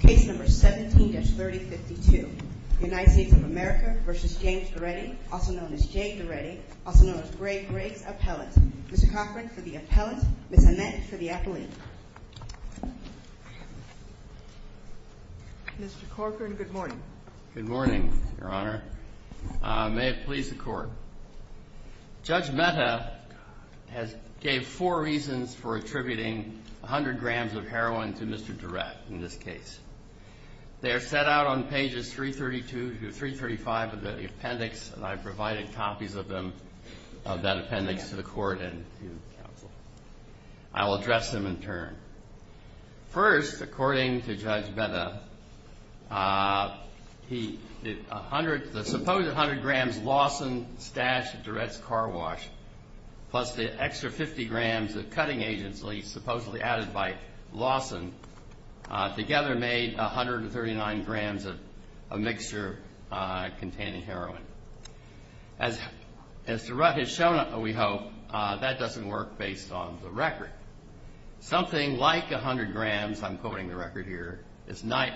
Case No. 17-3052 United States of America v. James Durrette, also known as Jay Durrette, also known as Ray Gregg's appellate. Mr. Cochran for the appellate, Ms. Annette for the appellate. Mr. Cochran, good morning. Good morning, Your Honor. May it please the Court. Judge Mehta gave four reasons for attributing 100 grams of heroin to Mr. Durrette in this case. They are set out on pages 332 to 335 of the appendix, and I've provided copies of them, of that appendix, to the Court and to counsel. I will address them in turn. First, according to Judge Mehta, the supposed 100 grams Lawson stashed at Durrette's car wash, plus the extra 50 grams of cutting agents, supposedly added by Lawson, together made 139 grams of mixture containing heroin. As Durrette has shown, we hope, that doesn't work based on the record. Something like 100 grams, I'm quoting the record here, is not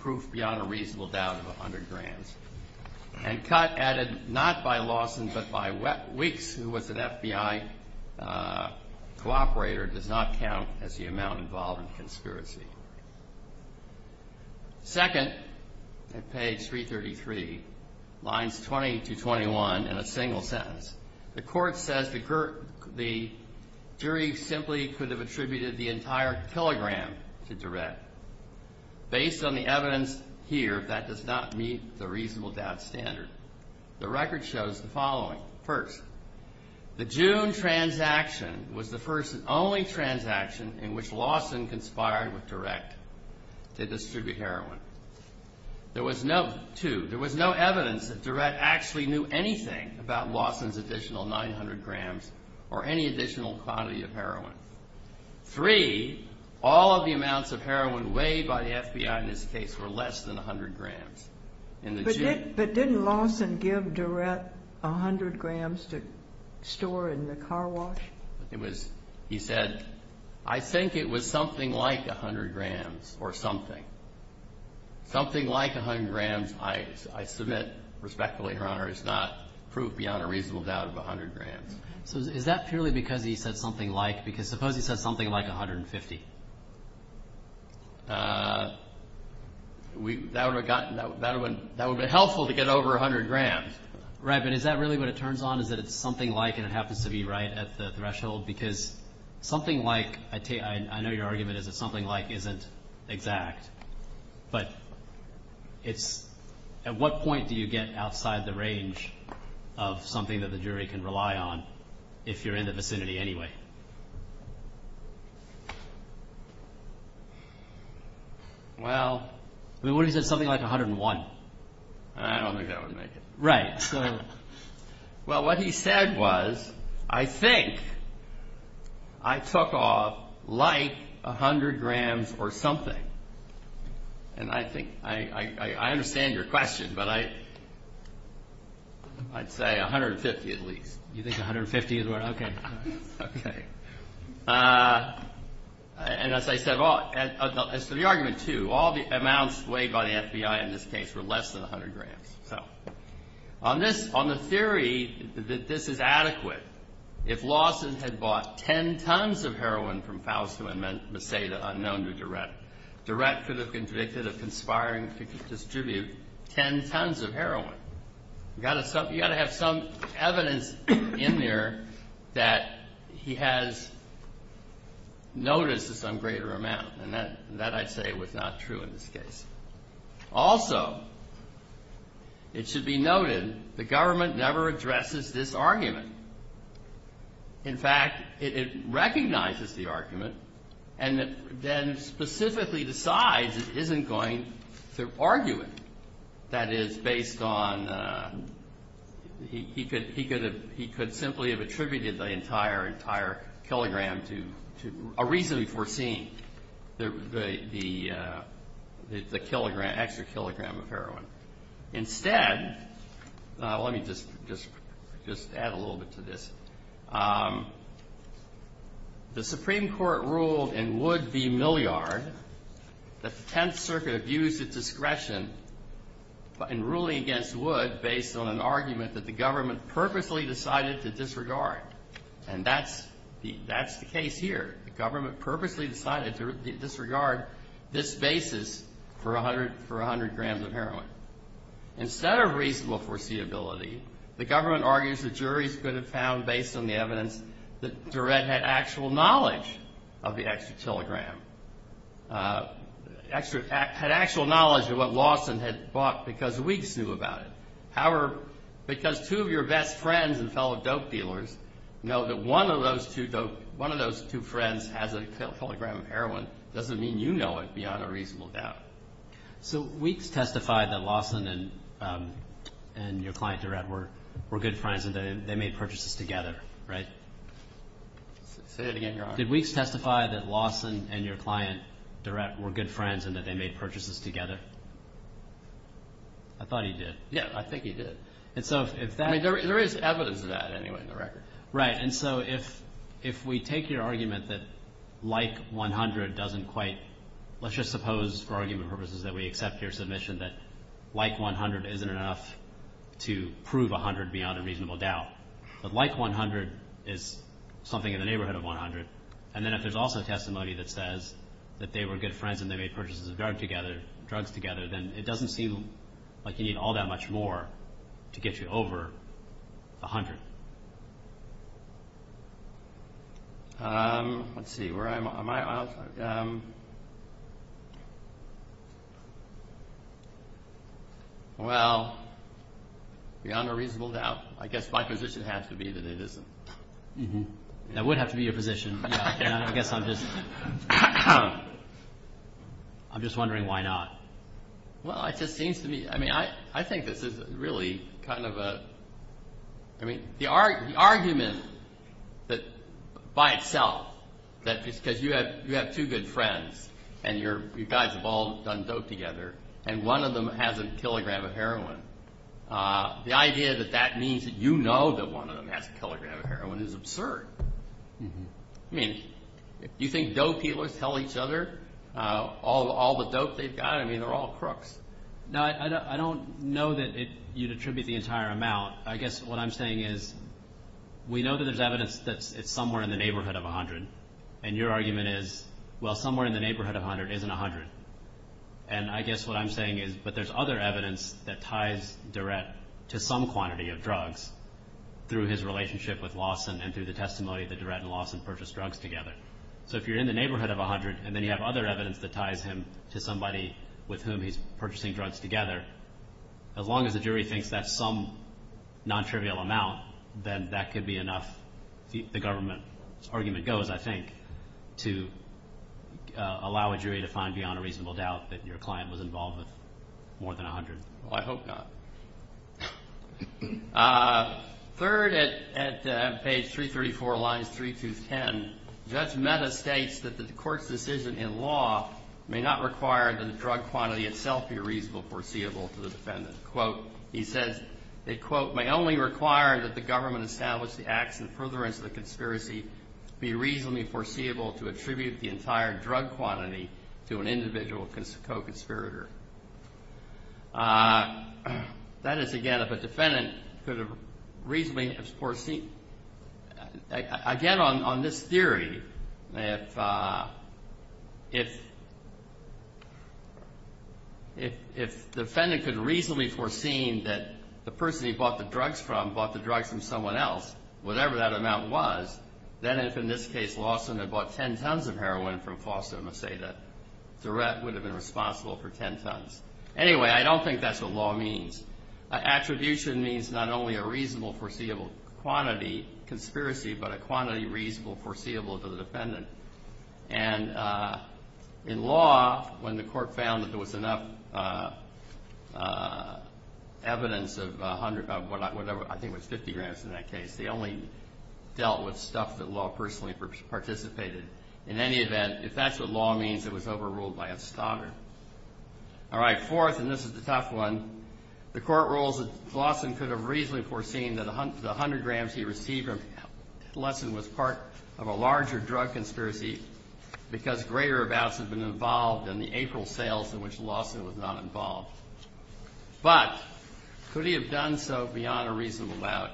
proof beyond a reasonable doubt of 100 grams. And cut added not by Lawson, but by Weeks, who was an FBI cooperator, does not count as the amount involved in the conspiracy. Second, at page 333, lines 20 to 21, in a single sentence, the Court says the jury simply could have attributed the entire kilogram to Durrette. Based on the evidence here, that does not meet the reasonable doubt standard. The record shows the following. First, the June transaction was the first and only transaction in which Lawson conspired with Durrette to distribute heroin. Two, there was no evidence that Durrette actually knew anything about Lawson's additional 900 grams or any additional quantity of heroin. Three, all of the amounts of heroin weighed by the FBI in this case were less than 100 grams. But didn't Lawson give Durrette 100 grams to store in the car wash? He said, I think it was something like 100 grams or something. Something like 100 grams, I submit respectfully, Your Honor, is not proof beyond a reasonable doubt of 100 grams. So is that purely because he said something like, because suppose he said something like 150? That would have been helpful to get over 100 grams. Right. But is that really what it turns on, is that it's something like, and it happens to be right at the threshold? Because something like, I know your argument is that something like isn't exact, but it's, at what point do you get outside the range of something that the jury can rely on if you're in the vicinity anyway? Well, what if he said something like 101? I don't think that would make it. Right. Well, what he said was, I think I took off like 100 grams or something. And I think, I understand your question, but I'd say 150 at least. You think 150 is what, okay. Okay. And as I said, so the argument too, all the amounts weighed by the FBI in this case were less than 100 grams. So on this, on the theory that this is adequate, if Lawson had bought 10 tons of heroin from Fausto and Merceda unknown to Durrette, Durrette could have convicted a conspiring, could distribute 10 tons of heroin. You got to have some evidence in there that he has noticed some greater amount. And that I'd say was not true in this case. Also, it should be noted, the government never addresses this argument. In fact, it recognizes the argument and then specifically decides it isn't going to argue it. That is based on, he could, he could have, he could simply have attributed the entire, entire kilogram to a reason for seeing the, the, the, the kilogram, extra kilogram of heroin. Instead, let me just, just, just add a little bit to this. The Supreme Court ruled in Wood v. Milliard that the Tenth Circuit abused its discretion in ruling against Wood based on an argument that the government purposely decided to disregard. And that's the, that's the case here. The government purposely decided to disregard this basis for 100, for 100 grams of heroin. Instead of reasonable foreseeability, the government argues that juries could have found based on the evidence that Durrette had actual knowledge of the extra kilogram, extra, had actual knowledge of what Lawson had bought because Weeks knew about it. However, because two of your best friends and fellow dope dealers know that one of those two dope, one of those two friends has a kilogram of heroin, doesn't mean you know it beyond a reasonable doubt. So Weeks testified that Lawson and, and your client Durrette were, were good friends and they, they made purchases together, right? Say it again, Your Honor. Did Weeks testify that Lawson and your client Durrette were good friends and that they made purchases together? I thought he did. Yeah, I think he did. And so if that... I mean, there is evidence of that anyway in the record. Right. And so if, if we take your argument that like 100 doesn't quite, let's just suppose for argument purposes that we accept your submission that like 100 isn't enough to prove 100 beyond a reasonable doubt. But like 100 is something in the neighborhood of 100. And then if there's also testimony that says that they were good friends and they made purchases of drug together, drugs together, then it doesn't seem like you need all that much more to get you over 100. Let's see, where am I? Well, beyond a reasonable doubt, I guess my position has to be that it isn't. That would have to be your position. I guess I'm just, I'm just wondering why not? Well, it just seems to me, I mean, I, I think this is really kind of a, I mean, the argument that by itself, that just because you have, you have two good friends and you're, you guys have all done dope together and one of them has a kilogram of heroin, the idea that that means that you know that one of them has a kilogram of heroin is absurd. I mean, do you think dope dealers tell each other all the dope they've got? I mean, they're all crooks. No, I don't know that you'd attribute the entire amount. I guess what I'm saying is we know that there's evidence that it's somewhere in the neighborhood of 100. And your argument is, well, somewhere in the neighborhood of 100 isn't 100. And I guess what I'm saying is, but there's other evidence that ties Durrett to some quantity of drugs through his relationship with Lawson and through the testimony that Durrett and Lawson purchased drugs together. So if you're in the neighborhood of 100 and then you have other evidence that ties him to somebody with whom he's purchasing drugs together, as long as the jury thinks that's some non-trivial amount, then that could be enough, the government argument goes, I think, to allow a jury to find beyond a reasonable doubt that your client was involved with more than 100. Well, I hope not. Third, at page 334, lines 3 through 10, Judge Mehta states that the court's decision in law may not require that the drug quantity itself be reasonable foreseeable to the defendant. Quote, he says, it, quote, may only require that the government establish the acts and furtherance of the conspiracy be reasonably foreseeable to attribute the entire drug quantity to an individual co-conspirator. That is, again, if a defendant could have reasonably foreseen, again, on this theory, if the defendant could have reasonably foreseen that the person he bought the drugs from bought the drugs from someone else, whatever that amount was, then if, in this case, Lawson had bought 10 tons of heroin from Foster and would say that Durrett would have been responsible for 10 tons of heroin. Anyway, I don't think that's what law means. Attribution means not only a reasonable foreseeable quantity, conspiracy, but a quantity reasonable foreseeable to the defendant. And in law, when the court found that there was enough evidence of whatever, I think it was 50 grams in that case, they only dealt with stuff that law personally participated. In any event, if that's what law means, it was overruled by a stoddard. All right, fourth, and this is the tough one. The court rules that Lawson could have reasonably foreseen that the 100 grams he received from Lesson was part of a larger drug conspiracy because greater amounts had been involved in the April sales in which Lawson was not involved. But could he have done so beyond a reasonable doubt,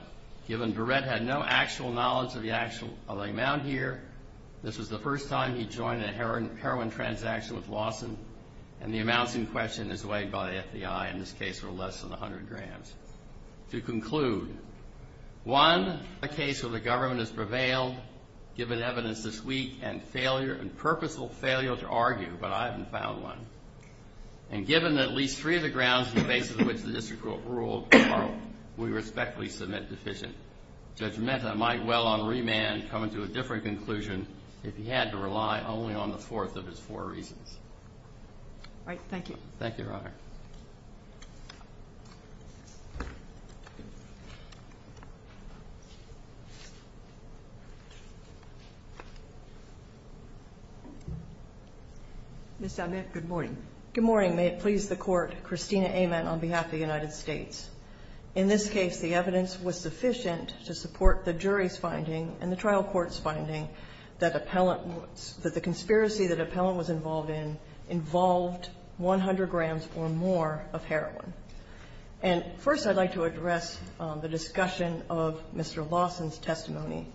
given Durrett had no actual knowledge of the actual amount here? This was the first time he joined a heroin transaction with Lawson, and the amounts in question is weighed by the FBI, in this case, were less than 100 grams. To conclude, one, a case where the government has prevailed, given evidence this week, and purposeful failure to argue, but I haven't found one. And given that at least three of the grounds on the basis of which the district court ruled are, we respectfully submit deficient. Judge Mehta might well, on remand, come to a different conclusion if he had to rely only on the fourth of his four reasons. All right. Thank you, Your Honor. Ms. Zellnick, good morning. Good morning. May it please the Court. Christina Amen on behalf of the United States. In this case, the evidence was sufficient to support the jury's finding and the trial court's finding that the conspiracy that Appellant was involved in involved 100 grams or more of heroin. And first I'd like to address the discussion of Mr. Lawson's testimony,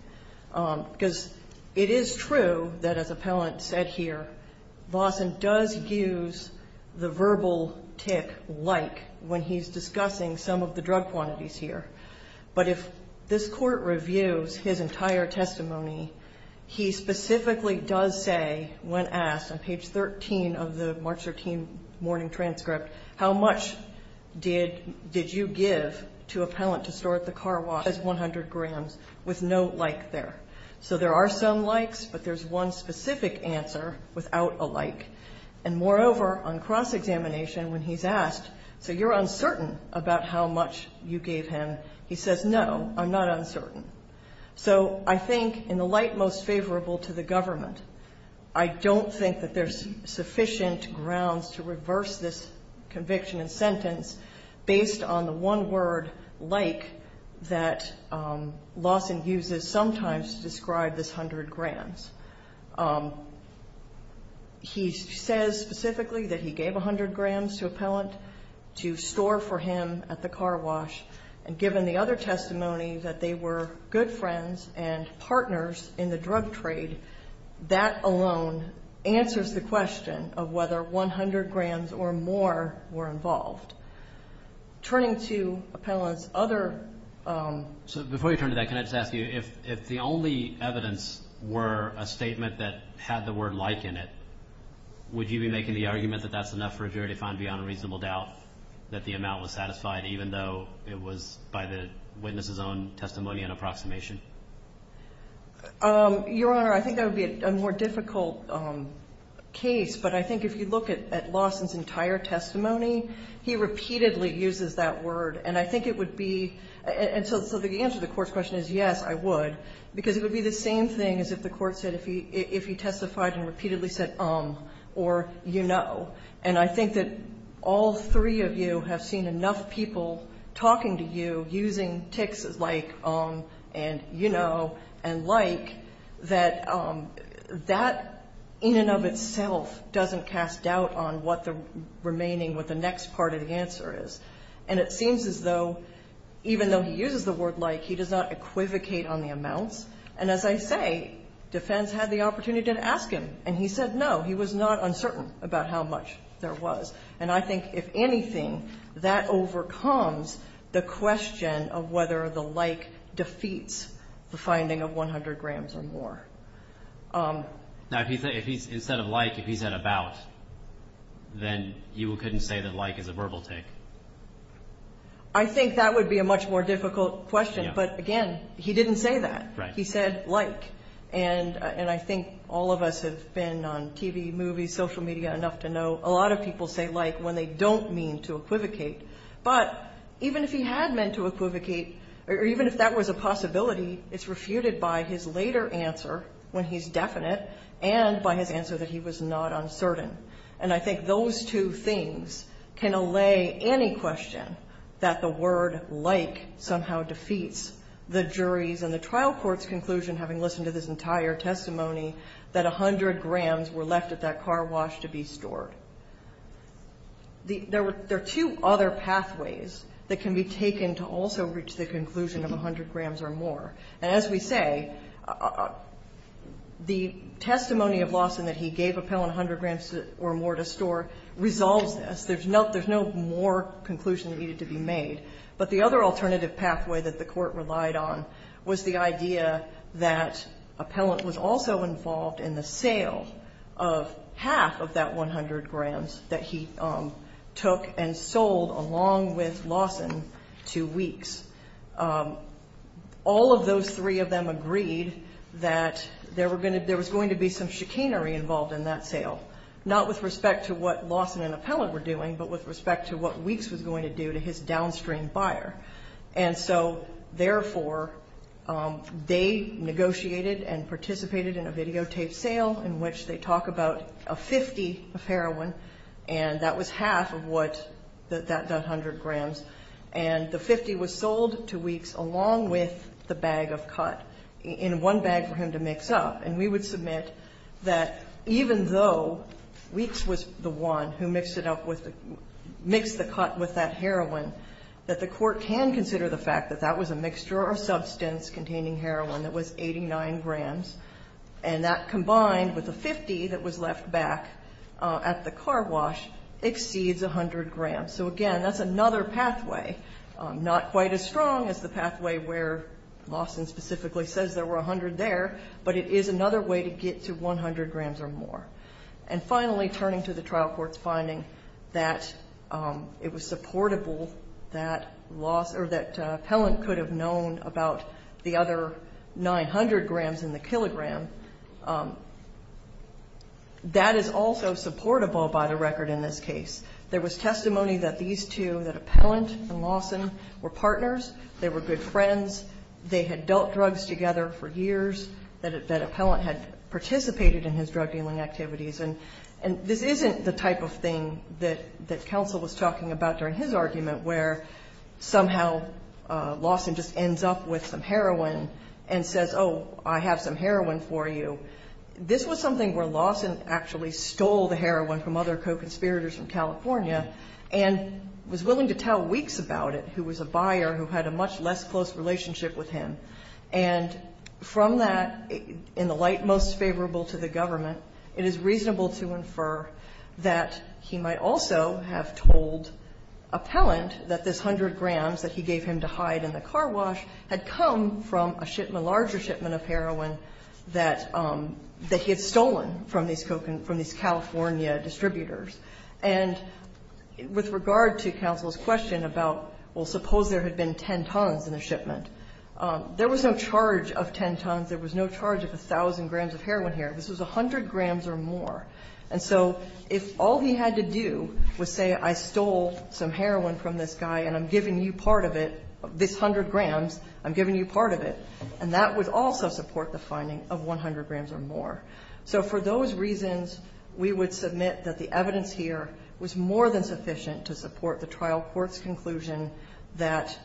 because it is true that, as Appellant said here, Lawson does use the verbal tick, like, when he's discussing some of the drug quantities here. But if this Court reviews his entire testimony, he specifically does say, when asked on page 13 of the March 13 morning transcript, how much did you give to Appellant to store at the car wash? It says 100 grams, with no like there. So there are some likes, but there's one specific answer without a like. And, moreover, on cross-examination, when he's asked, so you're uncertain about how much you gave him, he says, no, I'm not uncertain. So I think, in the light most favorable to the government, I don't think that there's sufficient grounds to reverse this conviction and sentence based on the one word like that Lawson uses sometimes to describe this 100 grams. He says specifically that he gave 100 grams to Appellant to store for him at the car wash. And given the other testimony, that they were good friends and partners in the drug trade, that alone answers the question of whether 100 grams or more were involved. Turning to Appellant's other... a statement that had the word like in it, would you be making the argument that that's enough for a jury to find beyond a reasonable doubt that the amount was satisfied, even though it was by the witness's own testimony and approximation? Your Honor, I think that would be a more difficult case. But I think if you look at Lawson's entire testimony, he repeatedly uses that word. And I think it would be – and so the answer to the Court's question is, yes, I would, because it would be the same thing as if the Court said if he testified and repeatedly said um or you know. And I think that all three of you have seen enough people talking to you, using tics like um and you know and like, that that in and of itself doesn't cast doubt on what the remaining, what the next part of the answer is. And it seems as though even though he uses the word like, he does not equivocate on the amounts. And as I say, defense had the opportunity to ask him. And he said no. He was not uncertain about how much there was. And I think if anything, that overcomes the question of whether the like defeats the finding of 100 grams or more. Now if he said, instead of like, if he said about, then you couldn't say that like is a verbal tic? I think that would be a much more difficult question. But again, he didn't say that. He said like. And I think all of us have been on TV, movies, social media enough to know a lot of people say like when they don't mean to equivocate. But even if he had meant to equivocate, or even if that was a possibility, it's refuted by his later answer when he's definite and by his answer that he was not uncertain. And I think those two things can allay any question that the word like somehow defeats the jury's and the trial court's conclusion, having listened to this entire testimony, that 100 grams were left at that car wash to be stored. There are two other pathways that can be taken to also reach the conclusion of 100 grams or more. And as we say, the testimony of Lawson that he gave Appellant 100 grams or more to store resolves this. There's no more conclusion needed to be made. But the other alternative pathway that the court relied on was the idea that Appellant was also involved in the sale of half of that 100 grams that he took and sold along with Lawson to Weeks. All of those three of them agreed that there was going to be some chicanery involved in that sale, not with respect to what Lawson and Appellant were doing, but with respect to what Weeks was going to do to his downstream buyer. And so, therefore, they negotiated and participated in a videotape sale in which they talk about a 50 of heroin, and that was half of what that 100 grams. And the 50 was sold to Weeks along with the bag of cut in one bag for him to mix up. And we would submit that even though Weeks was the one who mixed it up with the ---- mixed the cut with that heroin, that the court can consider the fact that that was a mixture or a substance containing heroin that was 89 grams, and that combined with the 50 that was left back at the car wash exceeds 100 grams. So, again, that's another pathway, not quite as strong as the pathway where Lawson specifically says there were 100 there, but it is another way to get to 100 grams or more. And, finally, turning to the trial court's finding that it was supportable that Lawson or that Appellant could have known about the other 900 grams in the kilogram, that is also supportable by the record in this case. There was testimony that these two, that Appellant and Lawson, were partners, they were good friends, they had dealt drugs together for years, that Appellant had participated in his drug-dealing activities. And this isn't the type of thing that counsel was talking about during his argument where somehow Lawson just ends up with some heroin and says, oh, I have some heroin for you. This was something where Lawson actually stole the heroin from other co-conspirators from California and was willing to tell Weeks about it, who was a buyer who had a much less close relationship with him. And from that, in the light most favorable to the government, it is reasonable to infer that he might also have told Appellant that this 100 grams that he gave him to hide in the car wash had come from a shipment, a larger shipment of heroin that he had stolen from these California distributors. And with regard to counsel's question about, well, suppose there had been 10 tons in the shipment. There was no charge of 10 tons. There was no charge of 1,000 grams of heroin here. This was 100 grams or more. And so if all he had to do was say, I stole some heroin from this guy and I'm giving you part of it, this 100 grams, I'm giving you part of it, and that would also support the finding of 100 grams or more. So for those reasons, we would submit that the evidence here was more than sufficient to support the trial court's conclusion that,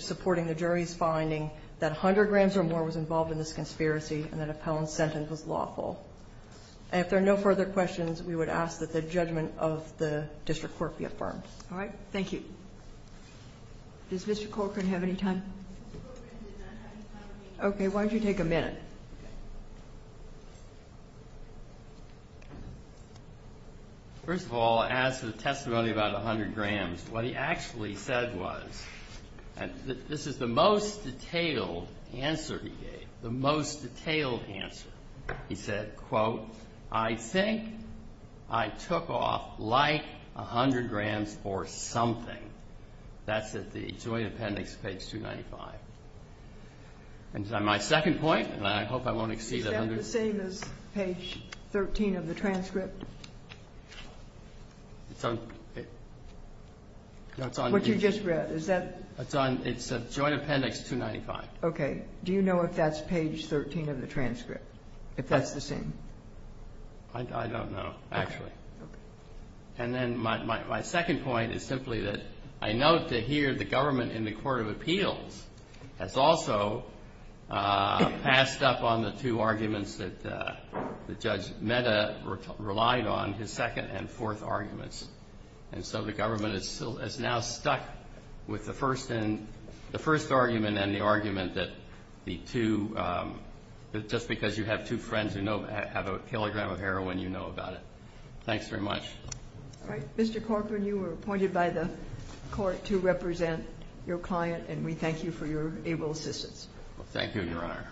supporting the jury's finding that 100 grams or more was involved in this conspiracy and that Appellant's sentence was lawful. If there are no further questions, we would ask that the judgment of the district court be affirmed. All right. Thank you. Does Mr. Corcoran have any time? Okay. Why don't you take a minute? First of all, as to the testimony about 100 grams, what he actually said was, and this is the most detailed answer he gave, the most detailed answer. He said, quote, I think I took off like 100 grams or something. That's at the joint appendix, page 295. And my second point, and I hope I won't exceed 100. Is that the same as page 13 of the transcript? What you just read, is that? It's a joint appendix 295. Okay. Do you know if that's page 13 of the transcript, if that's the same? I don't know, actually. Okay. And then my second point is simply that I note that here the government in the Court of Appeals has also passed up on the two arguments that Judge Mehta relied on, his second and fourth arguments. And so the government is now stuck with the first argument and the argument that the two, just because you have two friends who have a kilogram of heroin, you know about it. Thanks very much. All right. Mr. Corcoran, you were appointed by the Court to represent your client, and we thank you for your able assistance. Thank you, Your Honor.